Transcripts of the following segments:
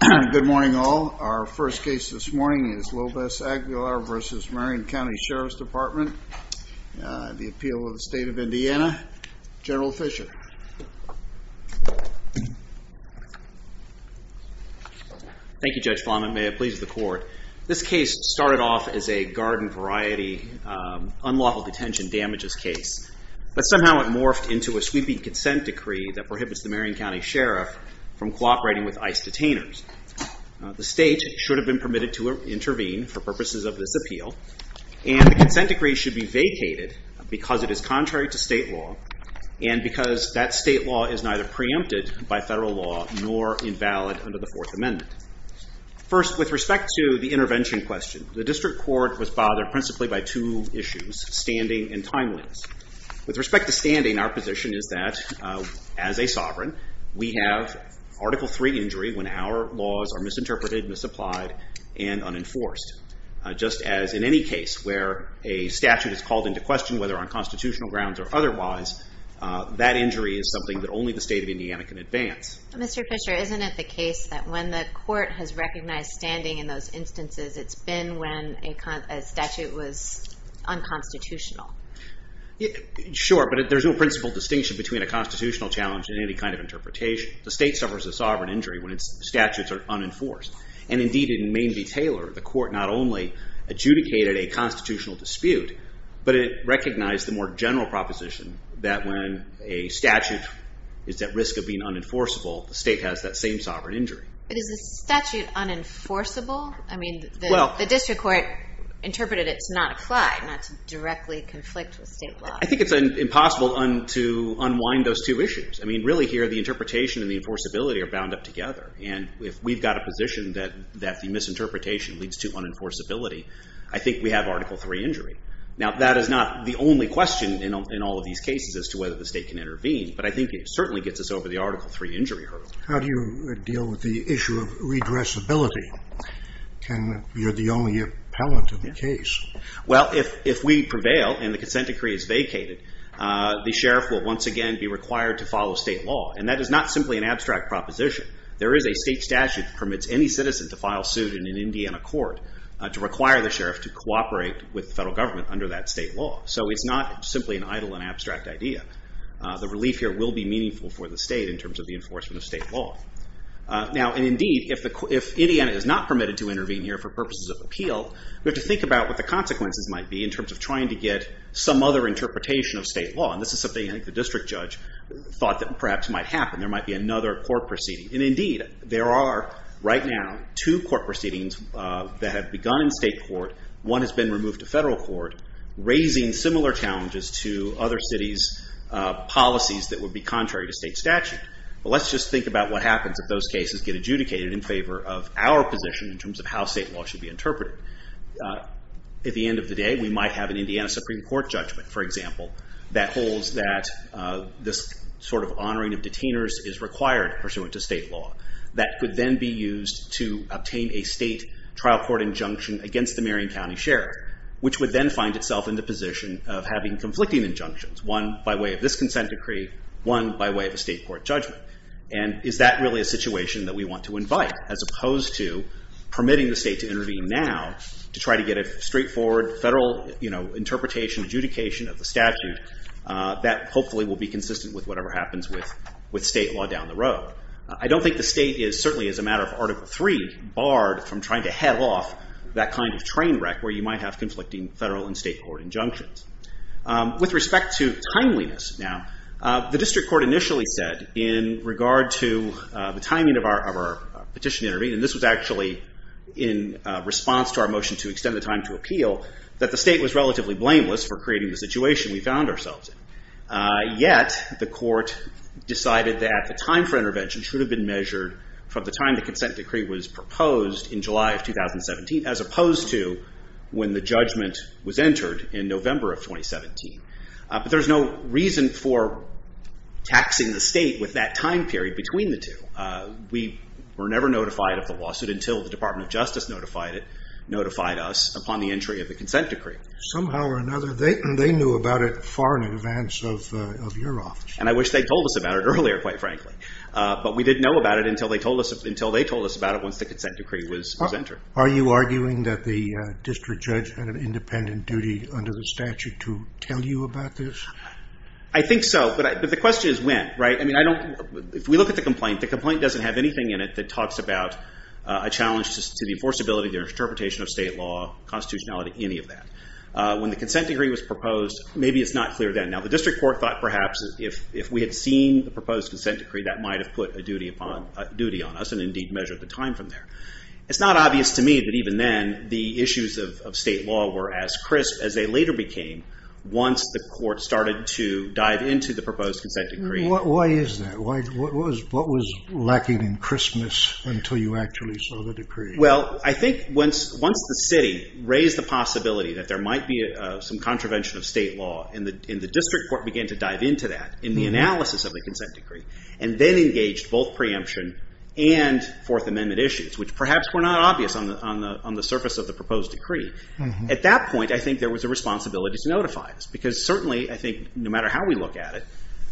Good morning all. Our first case this morning is Lopez-Aguilar v. Marion County Sheriff's Department, the appeal of the State of Indiana. General Fisher. Thank you Judge Flanagan. May it please the court. This case started off as a garden variety unlawful detention damages case. But somehow it morphed into a sweeping consent decree that prohibits the Marion County Sheriff from cooperating with ICE detainers. The state should have been permitted to intervene for purposes of this appeal and the consent decree should be vacated because it is contrary to state law and because that state law is neither preempted by federal law nor invalid under the Fourth Amendment. First, with respect to the intervention question, the district court was bothered principally by two issues, standing and timelines. With respect to standing, our position is that as a sovereign, we have Article III injury when our laws are misinterpreted, misapplied, and unenforced. Just as in any case where a statute is called into question whether on constitutional grounds or otherwise, that injury is something that only the State of Indiana can advance. Mr. Fisher, isn't it the case that when the court has recognized standing in those instances, it's been when a statute was unconstitutional? Sure, but there's no principal distinction between a constitutional challenge and any kind of interpretation. The state suffers a sovereign injury when its statutes are unenforced. And indeed in Main v. Taylor, the court not only adjudicated a constitutional dispute, but it recognized the more general proposition that when a statute is at risk of being unenforceable, the state has that same sovereign injury. But is the statute unenforceable? I mean, the district court interpreted it to not apply, not to directly conflict with state law. I think it's impossible to unwind those two issues. I mean, really here, the interpretation and the enforceability are bound up together. And if we've got a position that the misinterpretation leads to unenforceability, I think we have Article III injury. Now, that is not the only question in all of these cases as to whether the state can intervene. But I think it certainly gets us over the Article III injury hurdle. How do you deal with the issue of redressability? You're the only appellant in the case. Well, if we prevail and the consent decree is vacated, the sheriff will once again be required to follow state law. And that is not simply an abstract proposition. There is a state statute that permits any citizen to file suit in an Indiana court to require the sheriff to cooperate with the federal government under that state law. So it's not simply an idle and abstract idea. The relief here will be meaningful for the state in terms of the enforcement of state law. Now, indeed, if Indiana is not permitted to intervene here for purposes of appeal, we have to think about what the consequences might be in terms of trying to get some other interpretation of state law. And this is something I think the district judge thought that perhaps might happen. There might be another court proceeding. And indeed, there are right now two court proceedings that have begun in state court. One has been removed to federal court, raising similar challenges to other cities' policies that would be contrary to state statute. But let's just think about what happens if those cases get adjudicated in favor of our position in terms of how state law should be interpreted. At the end of the day, we might have an Indiana Supreme Court judgment, for example, that holds that this sort of honoring of detainers is required pursuant to state law that could then be used to obtain a state trial court injunction against the Marion County Sheriff, which would then find itself in the position of having conflicting injunctions, one by way of this consent decree, one by way of a state court judgment. And is that really a situation that we want to invite, as opposed to permitting the state to intervene now to try to get a straightforward federal interpretation, adjudication of the statute that hopefully will be consistent with whatever happens with state law down the road? I don't think the state is, certainly as a matter of Article III, barred from trying to head off that kind of train wreck where you might have conflicting federal and state court injunctions. With respect to timeliness now, the district court initially said, in regard to the timing of our petition to intervene, and this was actually in response to our motion to extend the time to appeal, that the state was relatively blameless for creating the situation we found ourselves in. Yet, the court decided that the time for intervention should have been measured from the time the consent decree was proposed in July of 2017, as opposed to when the judgment was entered in November of 2017. But there's no reason for taxing the state with that time period between the two. We were never notified of the lawsuit until the Department of Justice notified us upon the entry of the consent decree. Somehow or another, they knew about it far in advance of your office. And I wish they'd told us about it earlier, quite frankly. But we didn't know about it until they told us about it once the consent decree was entered. Are you arguing that the district judge had an independent duty under the statute to tell you about this? I think so, but the question is when, right? I mean, if we look at the complaint, the complaint doesn't have anything in it that talks about a challenge to the enforceability, the interpretation of state law, constitutionality, any of that. When the consent decree was proposed, maybe it's not clear then. Now, the district court thought perhaps if we had seen the proposed consent decree, that might have put a duty on us and indeed measured the time from there. It's not obvious to me that even then the issues of state law were as crisp as they later became once the court started to dive into the proposed consent decree. Why is that? What was lacking in crispness until you actually saw the decree? Well, I think once the city raised the possibility that there might be some contravention of state law, and the district court began to dive into that in the analysis of the consent decree and then engaged both preemption and Fourth Amendment issues, which perhaps were not obvious on the surface of the proposed decree. At that point, I think there was a responsibility to notify us because certainly, I think, no matter how we look at it,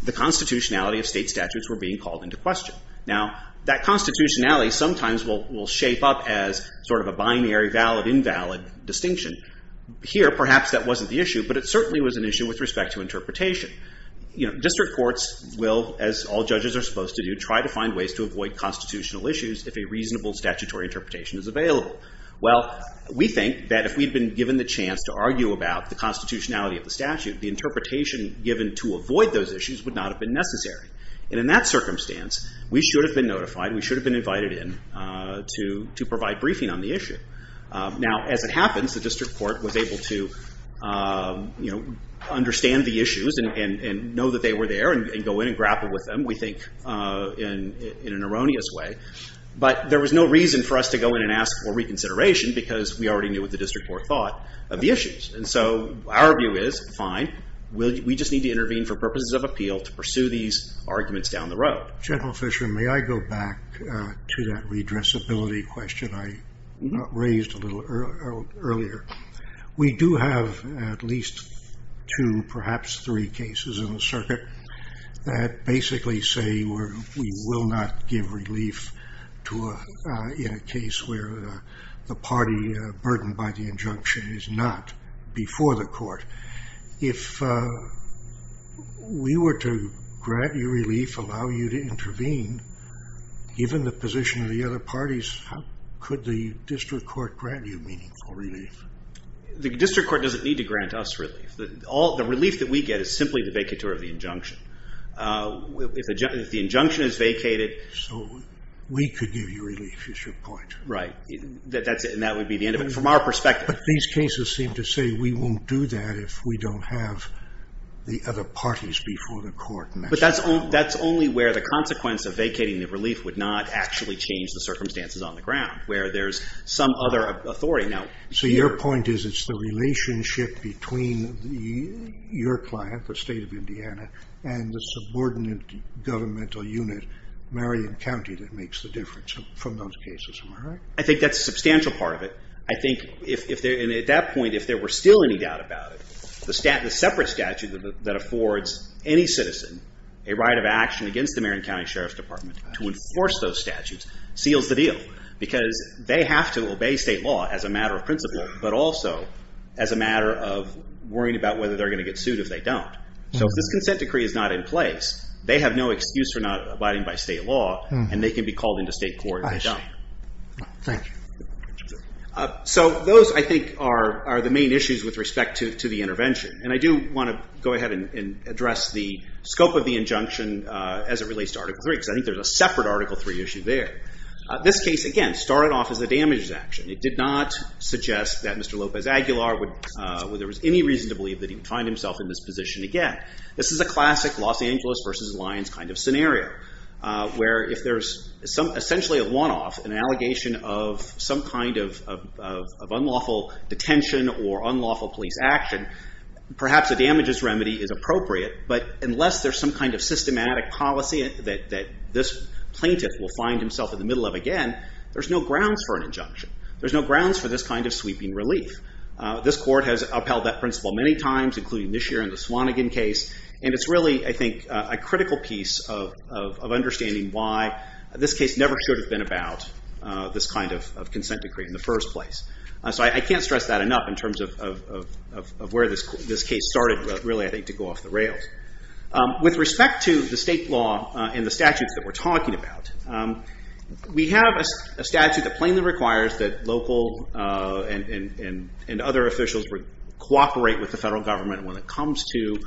the constitutionality of state statutes were being called into question. Now, that constitutionality sometimes will shape up as sort of a binary valid-invalid distinction. Here, perhaps that wasn't the issue, but it certainly was an issue with respect to interpretation. District courts will, as all judges are supposed to do, try to find ways to avoid constitutional issues if a reasonable statutory interpretation is available. Well, we think that if we'd been given the chance to argue about the constitutionality of the statute, the interpretation given to avoid those issues would not have been necessary. And in that circumstance, we should have been notified. We should have been invited in to provide briefing on the issue. Now, as it happens, the district court was able to understand the issues and know that they were there and go in and grapple with them, we think, in an erroneous way. But there was no reason for us to go in and ask for reconsideration because we already knew what the district court thought of the issues. And so our view is, fine, we just need to intervene for purposes of appeal to pursue these arguments down the road. General Fisher, may I go back to that redressability question I raised a little earlier? We do have at least two, perhaps three, cases in the circuit that basically say we will not give relief in a case where the party burdened by the injunction is not before the court. If we were to grant you relief, allow you to intervene, given the position of the other parties, how could the district court grant you meaningful relief? The district court doesn't need to grant us relief. The relief that we get is simply the vacatur of the injunction. If the injunction is vacated... So we could give you relief, is your point? Right. And that would be the end of it, from our perspective. But these cases seem to say we won't do that if we don't have the other parties before the court. But that's only where the consequence of vacating the relief would not actually change the circumstances on the ground, where there's some other authority. So your point is it's the relationship between your client, the state of Indiana, and the subordinate governmental unit, Marion County, that makes the difference from those cases, am I right? I think that's a substantial part of it. And at that point, if there were still any doubt about it, the separate statute that affords any citizen a right of action against the Marion County Sheriff's Department to enforce those statutes seals the deal. Because they have to obey state law as a matter of principle, but also as a matter of worrying about whether they're going to get sued if they don't. So if this consent decree is not in place, they have no excuse for not abiding by state law, and they can be called into state court if they don't. Thank you. So those, I think, are the main issues with respect to the intervention. And I do want to go ahead and address the scope of the injunction as it relates to Article III, because I think there's a separate Article III issue there. This case, again, started off as a damages action. It did not suggest that Mr. Lopez Aguilar, whether there was any reason to believe that he would find himself in this position again. This is a classic Los Angeles versus Lyons kind of scenario, where if there's essentially a one-off, an allegation of some kind of unlawful detention or unlawful police action, perhaps a damages remedy is appropriate. But unless there's some kind of systematic policy that this plaintiff will find himself in the middle of again, there's no grounds for an injunction. There's no grounds for this kind of sweeping relief. This court has upheld that principle many times, including this year in the Swanigan case. And it's really, I think, a critical piece of understanding why this case never should have been about this kind of consent decree in the first place. So I can't stress that enough in terms of where this case started, really, I think, to go off the rails. With respect to the state law and the statutes that we're talking about, we have a statute that plainly requires that local and other officials cooperate with the federal government when it comes to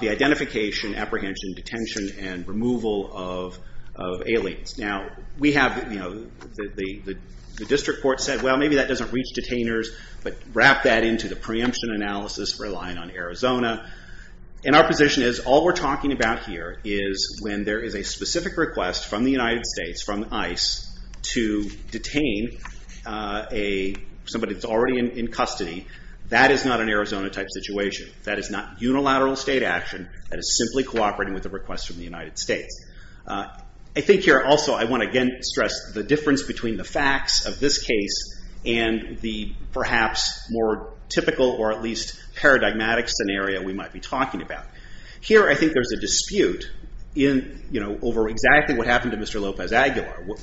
the identification, apprehension, detention, and removal of aliens. Now, we have the district court said, well, maybe that doesn't reach detainers, but wrap that into the preemption analysis relying on Arizona. And our position is all we're talking about here is when there is a specific request from the United States, from ICE, to detain somebody that's already in custody, that is not an Arizona-type situation. That is not unilateral state action. That is simply cooperating with a request from the United States. I think here, also, I want to again stress the difference between the facts of this case and the perhaps more typical or at least paradigmatic scenario we might be talking about. Here, I think there's a dispute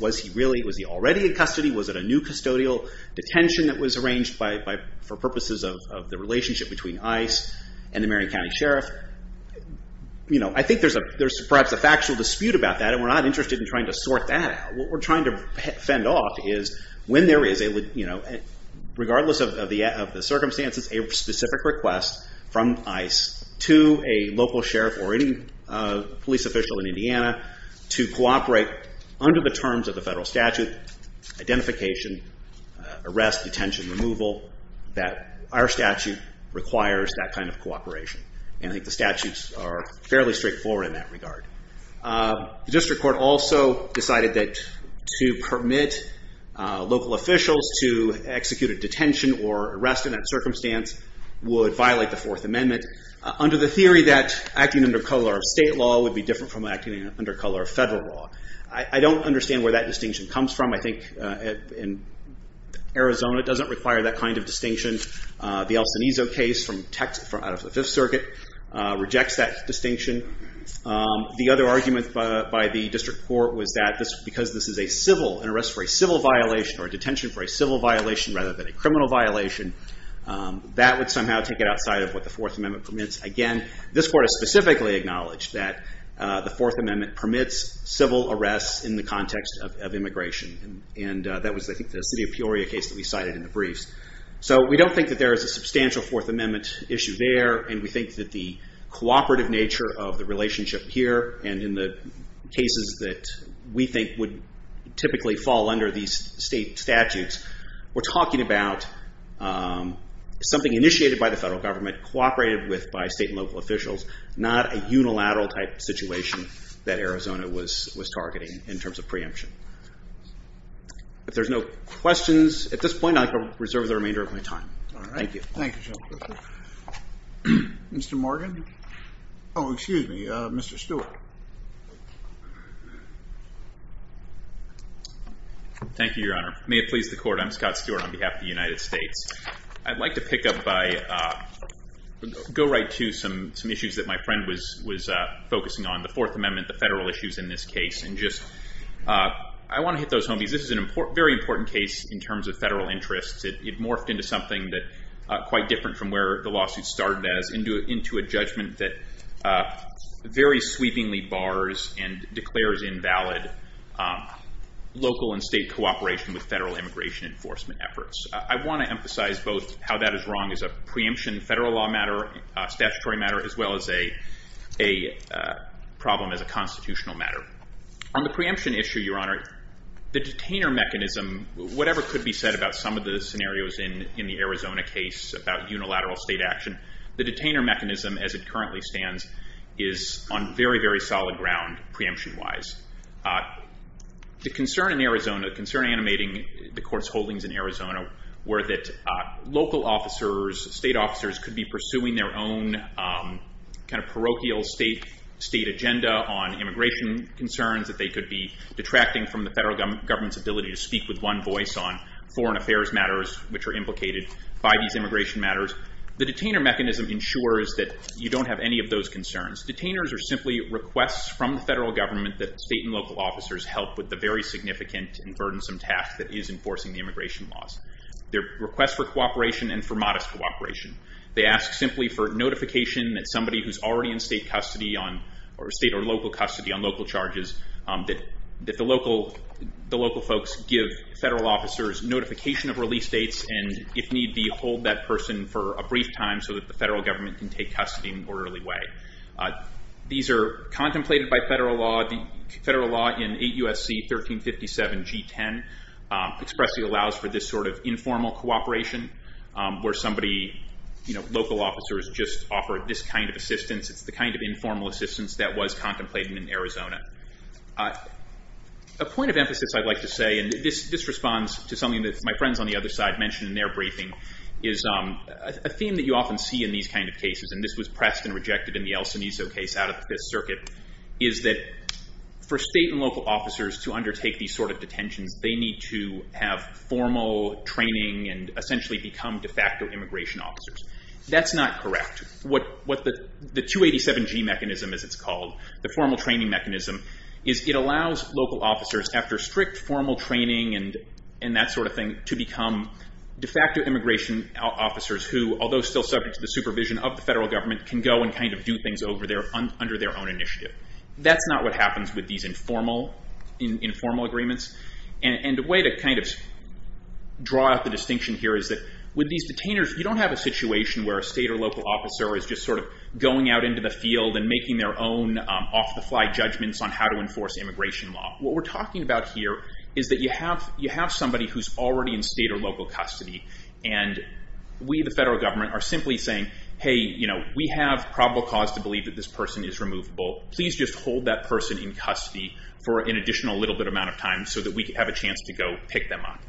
Was he already in custody? Was it a new custodial detention that was arranged for purposes of the relationship between ICE and the Marion County Sheriff? I think there's perhaps a factual dispute about that, and we're not interested in trying to sort that out. What we're trying to fend off is when there is, regardless of the circumstances, a specific request from ICE to a local sheriff or any police official in Indiana to cooperate under the terms of the federal statute, detention, identification, arrest, detention, removal, that our statute requires that kind of cooperation. I think the statutes are fairly straightforward in that regard. The district court also decided that to permit local officials to execute a detention or arrest in that circumstance would violate the Fourth Amendment under the theory that acting under color of state law would be different from acting under color of federal law. I don't understand where that distinction comes from. I think in Arizona, it doesn't require that kind of distinction. The El Cenizo case out of the Fifth Circuit rejects that distinction. The other argument by the district court was that because this is an arrest for a civil violation or a detention for a civil violation rather than a criminal violation, that would somehow take it outside of what the Fourth Amendment permits. Again, this court has specifically acknowledged that the Fourth Amendment permits civil arrests in the context of immigration. That was, I think, the city of Peoria case that we cited in the briefs. We don't think that there is a substantial Fourth Amendment issue there, and we think that the cooperative nature of the relationship here and in the cases that we think would typically fall under these state statutes, we're talking about something initiated by the federal government, cooperated with by state and local officials, not a unilateral type situation that Arizona was targeting in terms of preemption. If there's no questions at this point, I reserve the remainder of my time. Thank you. Mr. Morgan? Oh, excuse me, Mr. Stewart. Thank you, Your Honor. May it please the Court, I'm Scott Stewart on behalf of the United States. I'd like to pick up by and go right to some issues that my friend was focusing on, the Fourth Amendment, the federal issues in this case. I want to hit those home because this is a very important case in terms of federal interests. It morphed into something quite different from where the lawsuit started as, into a judgment that very sweepingly bars and declares invalid local and state cooperation with federal immigration enforcement efforts. I want to emphasize both how that is wrong as a preemption, federal law matter, statutory matter, as well as a problem as a constitutional matter. On the preemption issue, Your Honor, the detainer mechanism, whatever could be said about some of the scenarios in the Arizona case about unilateral state action, the detainer mechanism as it currently stands is on very, very solid ground preemption-wise. The concern in Arizona, the concern animating the court's holdings in Arizona were that local officers, state officers, could be pursuing their own kind of parochial state agenda on immigration concerns that they could be detracting from the federal government's ability to speak with one voice on foreign affairs matters which are implicated by these immigration matters. The detainer mechanism ensures that you don't have any of those concerns. Detainers are simply requests from the federal government that state and local officers help with the very significant and burdensome task that is enforcing the immigration laws. They're requests for cooperation and for modest cooperation. They ask simply for notification that somebody who's already in state custody or state or local custody on local charges that the local folks give federal officers notification of release dates and if need be hold that person for a brief time so that the federal government can take custody in an orderly way. These are contemplated by federal law. Federal law in 8 U.S.C. 1357 G10 expressly allows for this sort of informal cooperation where somebody, local officers, just offer this kind of assistance. It's the kind of informal assistance that was contemplated in Arizona. A point of emphasis I'd like to say and this responds to something that my friends on the other side mentioned in their briefing is a theme that you often see in these kind of cases and this was pressed and rejected in the El Cineso case out of the Fifth Circuit is that for state and local officers to undertake these sort of detentions they need to have formal training and essentially become de facto immigration officers. That's not correct. What the 287 G mechanism as it's called, the formal training mechanism is it allows local officers after strict formal training and that sort of thing to become de facto immigration officers who although still subject to the supervision of the federal government can go and kind of do things under their own initiative. That's not what happens with these informal agreements and a way to kind of draw out the distinction here is that with these detainers you don't have a situation where a state or local officer is just sort of going out into the field and making their own off the fly judgments on how to enforce immigration law. What we're talking about here is that you have somebody who's already in state or local custody and we the federal government are simply saying hey we have probable cause to believe that this person is removable. Please just hold that person in custody for an additional little bit amount of time so that we have a chance to go pick them up.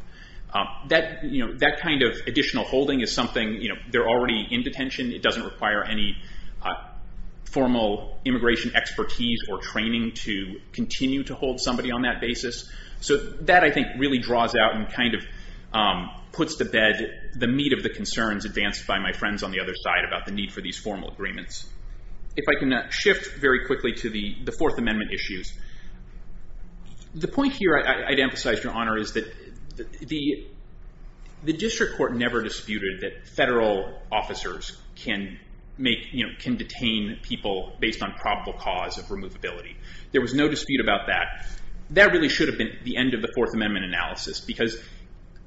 That kind of additional holding is something they're already in detention. It doesn't require any formal immigration expertise or training to continue to hold somebody on that basis. So that I think really draws out and kind of puts to bed the meat of the concerns advanced by my friends on the other side about the need for these formal agreements. If I can shift very quickly to the Fourth Amendment issues. The point here I'd emphasize Your Honor is that the district court never disputed that federal officers can detain people based on probable cause of removability. There was no dispute about that. That really should have been the end of the Fourth Amendment analysis because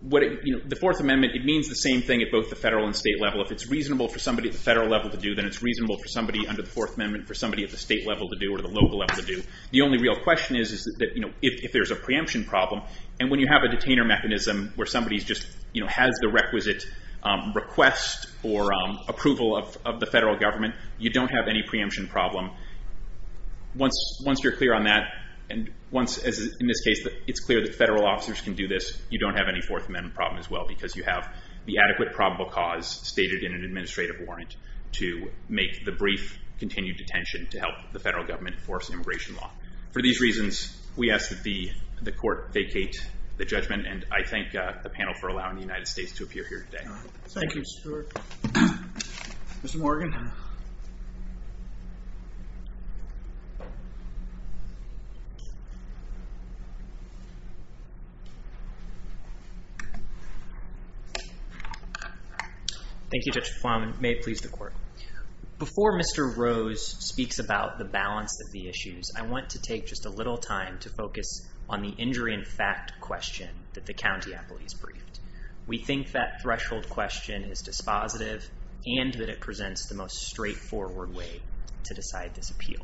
the Fourth Amendment it means the same thing at both the federal and state level. If it's reasonable for somebody at the federal level to do then it's reasonable for somebody under the Fourth Amendment for somebody at the state level to do or the local level to do. The only real question is that if there's a preemption problem and when you have a detainer mechanism where somebody just has the requisite request or you don't have any preemption problem once you're clear on that and once in this case it's clear that federal officers can do this you don't have any Fourth Amendment problem as well because you have the adequate probable cause stated in an administrative warrant to make the brief continued detention to help the federal government enforce immigration law. For these reasons we ask that the court vacate the judgment and I thank the panel for allowing the United States to appear here today. Thank you Stuart. Mr. Morgan. Thank you Judge Plowman. May it please the court. Before Mr. Rose speaks about the balance of the issues I want to take just a little time to focus on the injury in fact question that the county controlled question is dispositive and that it presents the most straightforward way to decide this appeal.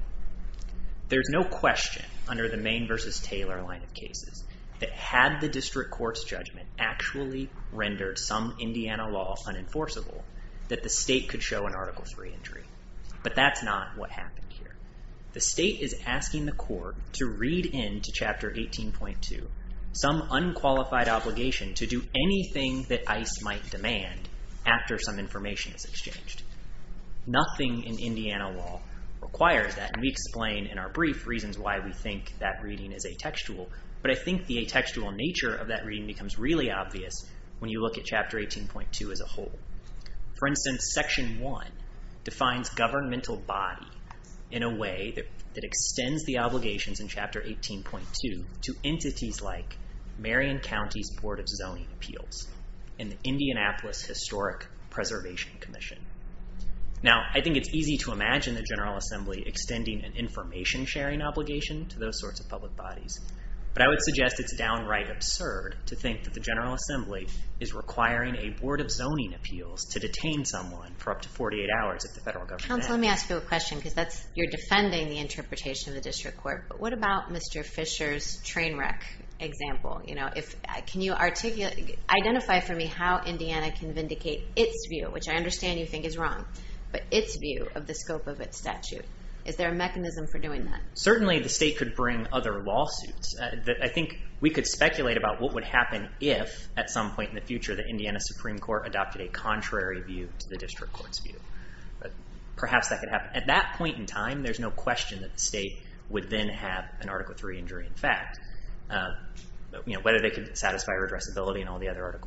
There's no question under the main versus Taylor line of cases that had the district courts judgment actually rendered some Indiana law unenforceable that the state could show an article three injury but that's not what happened here. The state is asking the court to read into chapter 18.2 some unqualified obligation to do anything that ice might demand after some information is exchanged. Nothing in Indiana law requires that we explain in our brief reasons why we think that reading is a textual but I think the textual nature of that reading becomes really obvious when you look at chapter 18.2 as a whole. For instance section one defines governmental body in a way that extends the obligations in chapter 18.2 to entities like Marion County's board of zoning appeals in Indianapolis historic preservation commission. Now I think it's easy to imagine the General Assembly extending an information sharing obligation to those sorts of public bodies but I would suggest it's downright absurd to think that the General Assembly is requiring a board of zoning appeals to detain someone for up to 48 hours at the federal government. Let me ask you a question because that's you're defending the train wreck example. Can you identify for me how Indiana can vindicate its view, which I understand you think is wrong, but its view of the scope of its statute. Is there a mechanism for doing that? Certainly the state could bring other lawsuits that I think we could speculate about what would happen if at some point in the future the Indiana Supreme Court adopted a contrary view to the district court's view. Perhaps that could happen. At that point in time there's no question that the whether they could satisfy redressability and all the other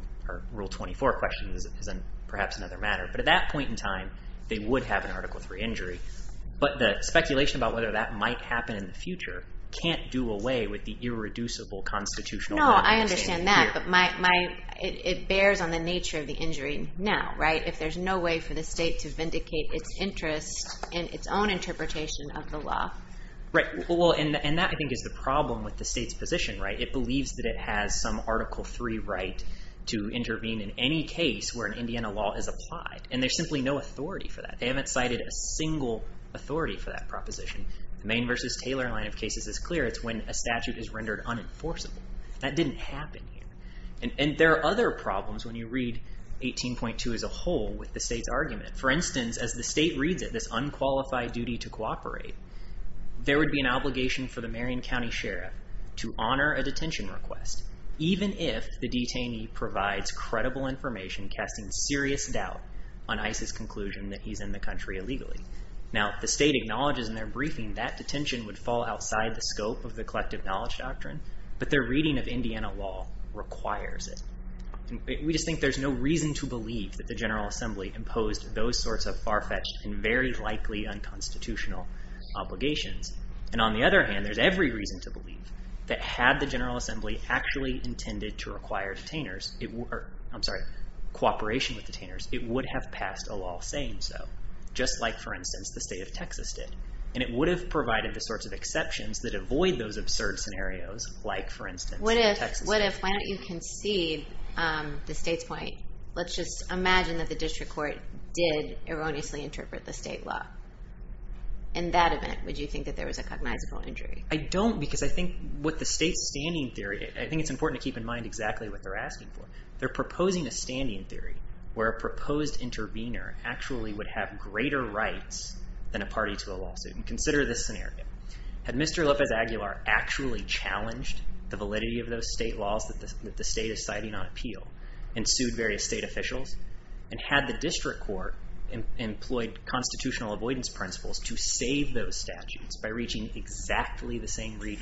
rule 24 questions is perhaps another matter. But at that point in time they would have an article 3 injury. But the speculation about whether that might happen in the future can't do away with the irreducible constitutional law. No, I understand that but my it bears on the nature of the injury now. If there's no way for the state to vindicate its interest in its own interpretation of the law. Right, and that I think is the problem with the state's position, right? It believes that it has some article 3 right to intervene in any case where an Indiana law is applied. And there's simply no authority for that. They haven't cited a single authority for that proposition. Maine v. Taylor line of cases is clear. It's when a statute is rendered unenforceable. That didn't happen here. And there are other problems when you read 18.2 as a whole with the state's argument. For instance, as the state reads it, this unqualified duty to cooperate. There would be an obligation for the Marion County Sheriff to honor a detention request, even if the detainee provides credible information casting serious doubt on Isis conclusion that he's in the country illegally. Now the state acknowledges in their briefing that detention would fall outside the scope of the collective knowledge doctrine. But their reading of Indiana law requires it. We just think there's no reason to believe that the General Assembly imposed those sorts of far-fetched and very likely unconstitutional obligations. And on the other hand, there's every reason to believe that had the General Assembly actually intended to require detainers, I'm sorry, cooperation with detainers, it would have passed a law saying so, just like, for instance, the state of Texas did. And it would have provided the sorts of exceptions that avoid those absurd scenarios like, for instance, Texas. What if, why don't you concede the state's point? Let's just imagine that the district court did erroneously interpret the state law. In that event, would you think that there was a cognizable injury? I don't, because I think what the state's standing theory, I think it's important to keep in mind exactly what they're asking for. They're proposing a standing theory where a proposed intervener actually would have greater rights than a party to a lawsuit. Consider this scenario. Had Mr. Lopez-Aguilar actually challenged the validity of those state laws that the state is citing on appeal and sued various state officials and had the district court employed constitutional avoidance principles to save those statutes by reaching exactly the same reach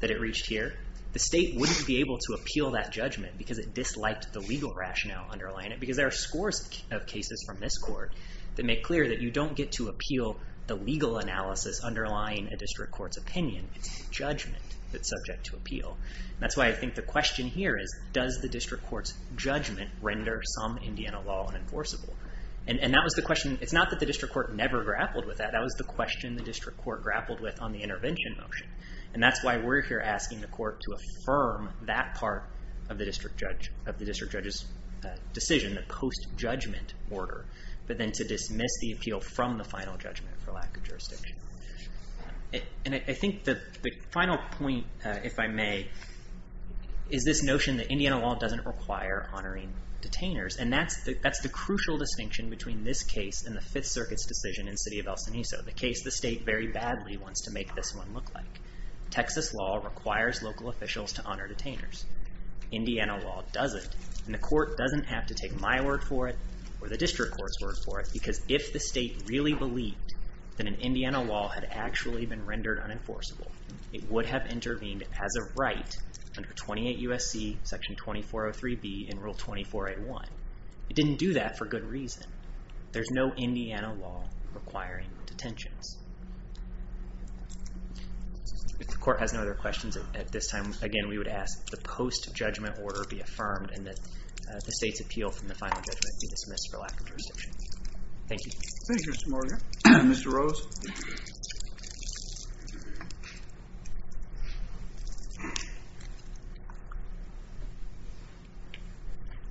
that it reached here, the state wouldn't be able to appeal that judgment because it disliked the legal rationale underlying it because there are scores of cases from this court that make clear that you don't get to appeal the legal analysis underlying a district court's opinion. It's the judgment that's subject to appeal. That's why I think the question here is, does the district court's judgment render some Indiana law unenforceable? And that was the question. It's not that the district court never grappled with that. That was the question the district court grappled with on the intervention motion. And that's why we're here asking the court to affirm that part of the district judge's decision, the post-judgment order, but then to dismiss the appeal from the final judgment for lack of jurisdiction. And I think the final point, if I may, is this notion that Indiana law doesn't require honoring detainers. And that's the crucial distinction between this case and the Fifth Circuit's decision in the city of El Cenizo, the case the state very badly wants to make this one look like. Texas law requires local officials to honor detainers. Indiana law doesn't. And the court doesn't have to take my word for it or the district court's word for it, because if the state really believed that an Indiana law had actually been rendered unenforceable, it would have intervened as a right under 28 U.S.C. Section 2403B and Rule 2481. It didn't do that for good reason. There's no Indiana law requiring detentions. If the court has no other questions at this time, again, we would ask that the post-judgment order be affirmed and that the state's appeal from the final judgment be dismissed for lack of reception. Thank you. Thank you, Mr. Morgan. Mr. Rose?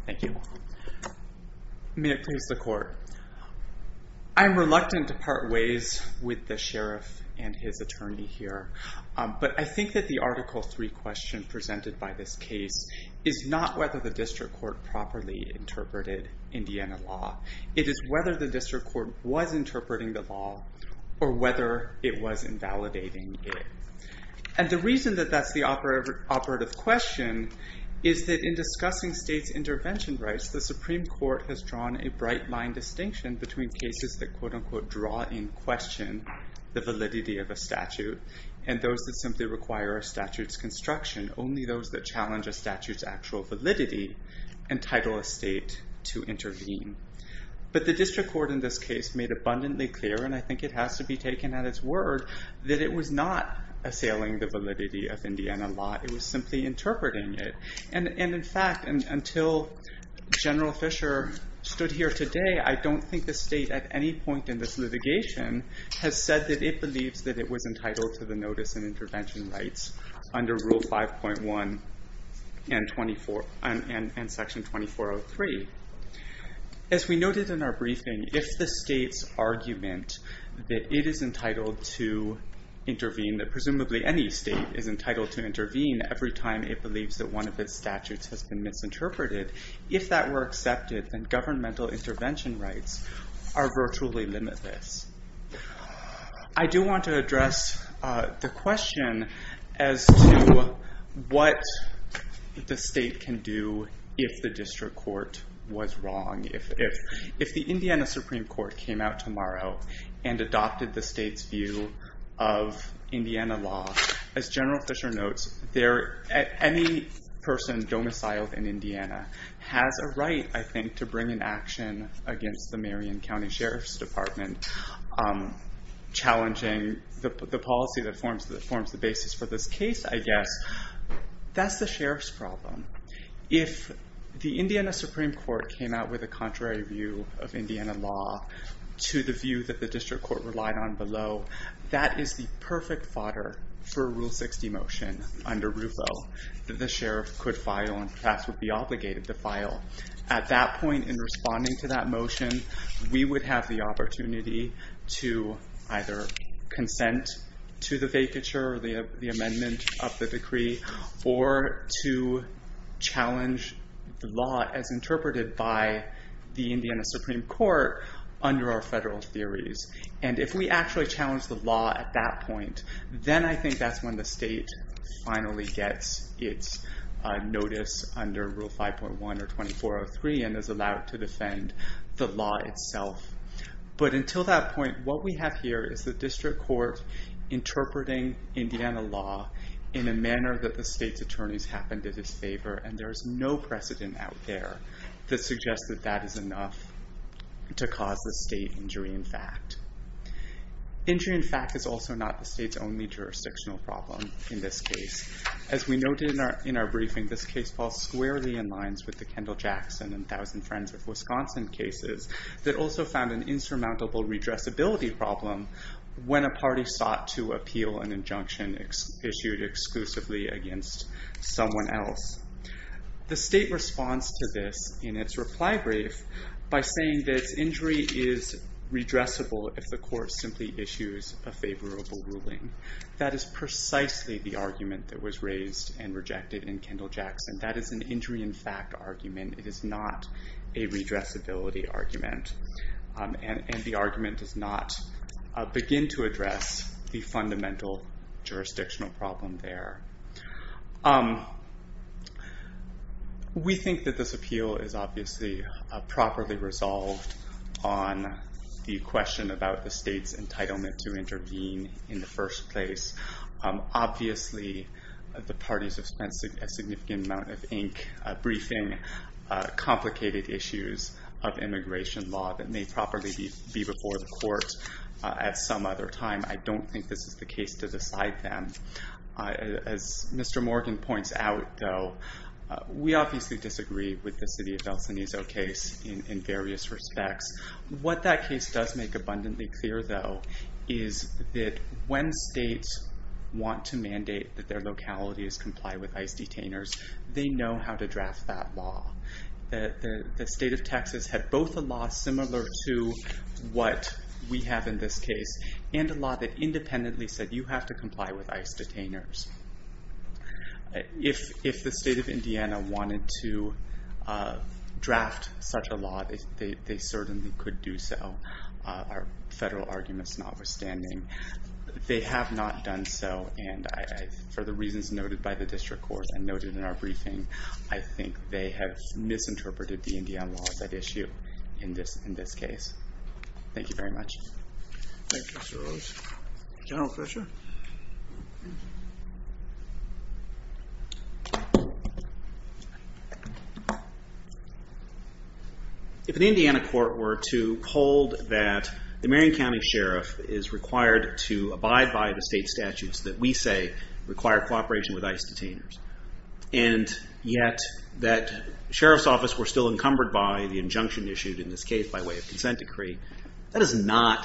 Thank you. May it please the court. I'm reluctant to part ways with the sheriff and his attorney here, but I think that the Article III question presented by this case is not whether the district court properly interpreted Indiana law. It is whether the district court was interpreting the law or whether it was invalidating it. And the reason that that's the operative question is that in discussing states' intervention rights, the Supreme Court has drawn a bright-line distinction between cases that quote-unquote draw in question the validity of a statute and those that simply require a statute's construction. Only those that challenge a statute's actual validity entitle a state to intervene. But the district court in this case made abundantly clear, and I think it has to be taken at its word, that it was not assailing the validity of Indiana law. It was simply interpreting it. And in fact, until General Fisher stood here today, I don't think the state at any point in this litigation has said that it believes that it was entitled to the notice and intervention rights under Rule 5.1 and Section 2403. As we noted in our briefing, if the state's argument that it is entitled to intervene, that presumably any state is entitled to intervene every time it believes that one of its statutes has been misinterpreted, if that were accepted, then governmental intervention rights are virtually limitless. I do want to address the question as to what the state can do if the district court was wrong. If the Indiana Supreme Court came out tomorrow and adopted the state's view of Indiana law, as General Fisher notes, any person domiciled in Indiana has a right, I think, to bring an action against the Marion County Sheriff's Department challenging the policy that forms the basis for this case, I guess. That's the sheriff's problem. If the Indiana Supreme Court came out with a contrary view of Indiana law to the view that the district court relied on below, that is the perfect fodder for a Rule 60 motion under RUFO that the sheriff could file and perhaps would be obligated to file. At that point, in responding to that motion, we would have the opportunity to either consent to the vacature or the amendment of the decree or to challenge the law as interpreted by the Indiana Supreme Court under our federal theories. If we actually challenge the law at that point, then I think that's when the state finally gets its notice under Rule 5.1 or 24.03 and is allowed to defend the law itself. But until that point, what we have here is the district court interpreting Indiana law in a manner that the state's attorneys happen to disfavor and there's no precedent out there that suggests that that is enough to cause the state injury in fact. Injury in fact is also not the state's only jurisdictional problem in this case. As we noted in our briefing, this case falls squarely in line with the Kendall-Jackson and Thousand Friends of Wisconsin cases that also found an insurmountable redressability problem when a party sought to appeal an injunction issued exclusively against someone else. The state responds to this in its reply brief by saying that injury is redressable if the court simply issues a favorable ruling. That is precisely the argument that was raised and rejected in Kendall-Jackson. That is an injury in fact argument. It is not a redressability argument. And the argument does not begin to address the fundamental jurisdictional problem there. We think that this appeal is obviously properly resolved on the question about the state's entitlement to intervene in the first place. Obviously the parties have spent a significant amount of ink briefing complicated issues of immigration law that may properly be before the court at some other time. I don't think this is the case to decide them. As Mr. Morgan points out we obviously disagree with the city of El Cenizo case in various respects. What that case does make abundantly clear though is that when states want to mandate that their localities comply with ICE detainers they know how to draft that law. The state of Texas had both a law similar to what we have in this case and a law that independently said you have to comply with ICE detainers. If the state of Indiana wanted to draft such a law they certainly could do so. Our federal argument is notwithstanding. They have not done so and for the reasons noted by the district court and noted in our briefing I think they have misinterpreted the Indiana law as that issue in this case. Thank you very much. Thank you Mr. Rose. General Fisher. If an Indiana court were to hold that the Marion County Sheriff is required to abide by the state statutes that we say require cooperation with ICE detainers and yet that Sheriff's Office were still encumbered by the injunction issued in this case by way of consent decree that is not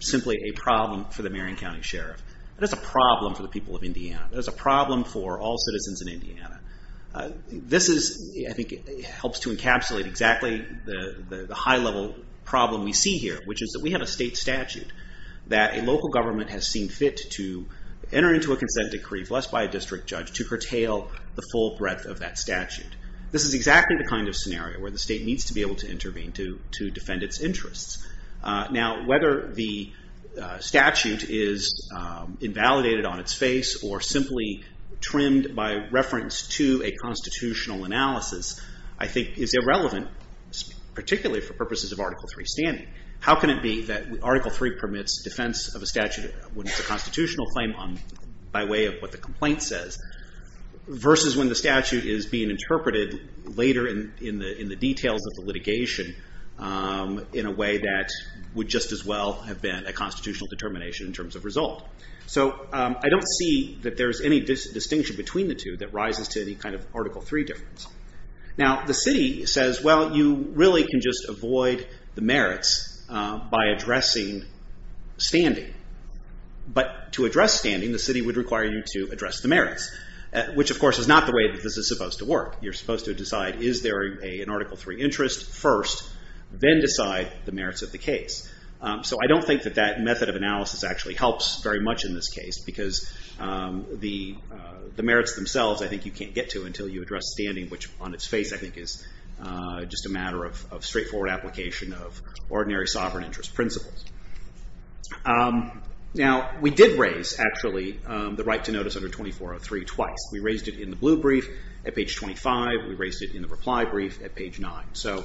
simply a problem for the Marion County Sheriff. That is a problem for the people of Indiana. That is a problem for all citizens in Indiana. This I think helps to encapsulate exactly the high level problem we see here which is that we have a state statute that a local government has seen fit to enter into a consent decree blessed by a district judge to curtail the full breadth of that statute. This is exactly the kind of scenario where the state needs to be able to intervene to defend its interests. Now whether the statute is invalidated on its face or simply trimmed by reference to a constitutional analysis I think is irrelevant particularly for purposes of Article 3 standing. How can it be that Article 3 permits defense of a statute when it's a constitutional claim by way of what the complaint says versus when the statute is being in a way that would just as well have been a constitutional determination in terms of result. I don't see that there's any distinction between the two that rises to any kind of Article 3 difference. Now the city says well you really can just avoid the merits by addressing standing. But to address standing the city would require you to address the merits which of course is not the way this is supposed to work. You're supposed to decide is there an Article 3 interest first then decide the merits of the case. So I don't think that that method of analysis actually helps very much in this case because the merits themselves I think you can't get to until you address standing which on its face I think is just a matter of straightforward application of ordinary sovereign interest principles. Now we did raise actually the right to notice under 2403 twice. We raised it in the blue brief at page 25. We raised it in the reply brief at page 9. So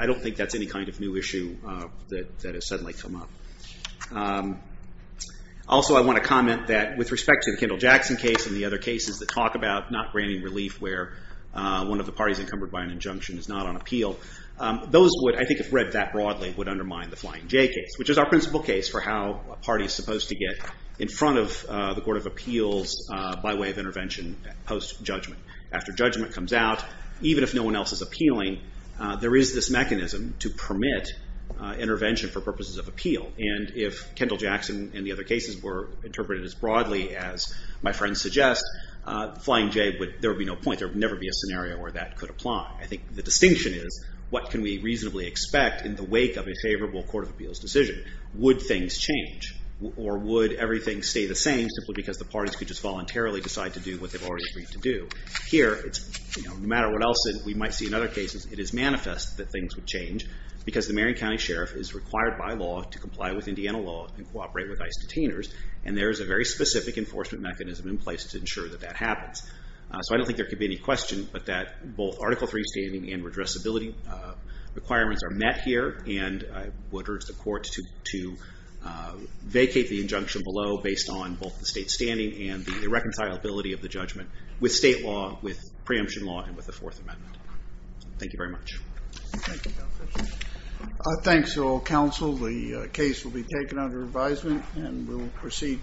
I don't think that's any kind of new issue that has suddenly come up. Also I want to comment that with respect to the Kendall-Jackson case and the other cases that talk about not granting relief where one of the parties encumbered by an injunction is not on appeal. Those would I think if read that broadly would undermine the Flying J case which is our principal case for how a party is supposed to get in front of the Court of Appeals by way of intervention post-judgment. After judgment comes out even if no one else is appealing there is this mechanism to permit intervention for purposes of appeal and if Kendall-Jackson and the other cases were interpreted as broadly as my friends suggest Flying J there would be no point. There would never be a scenario where that could apply. I think the distinction is what can we reasonably expect in the wake of a favorable Court of Appeals decision. Would things change or would everything stay the same simply because the parties could just voluntarily decide to do what they've already agreed to do. Here no matter what else we might see in other cases it is manifest that things would change because the Marion County Sheriff is required by law to comply with Indiana law and cooperate with ICE detainers and there is a very specific enforcement mechanism in place to ensure that that happens. So I don't think there could be any question but that both Article III standing and redressability requirements are met here and I would urge the court to vacate the injunction below based on both the state standing and the reconcilability of the judgment with state law, with preemption law and with the Fourth Amendment. Thank you very much.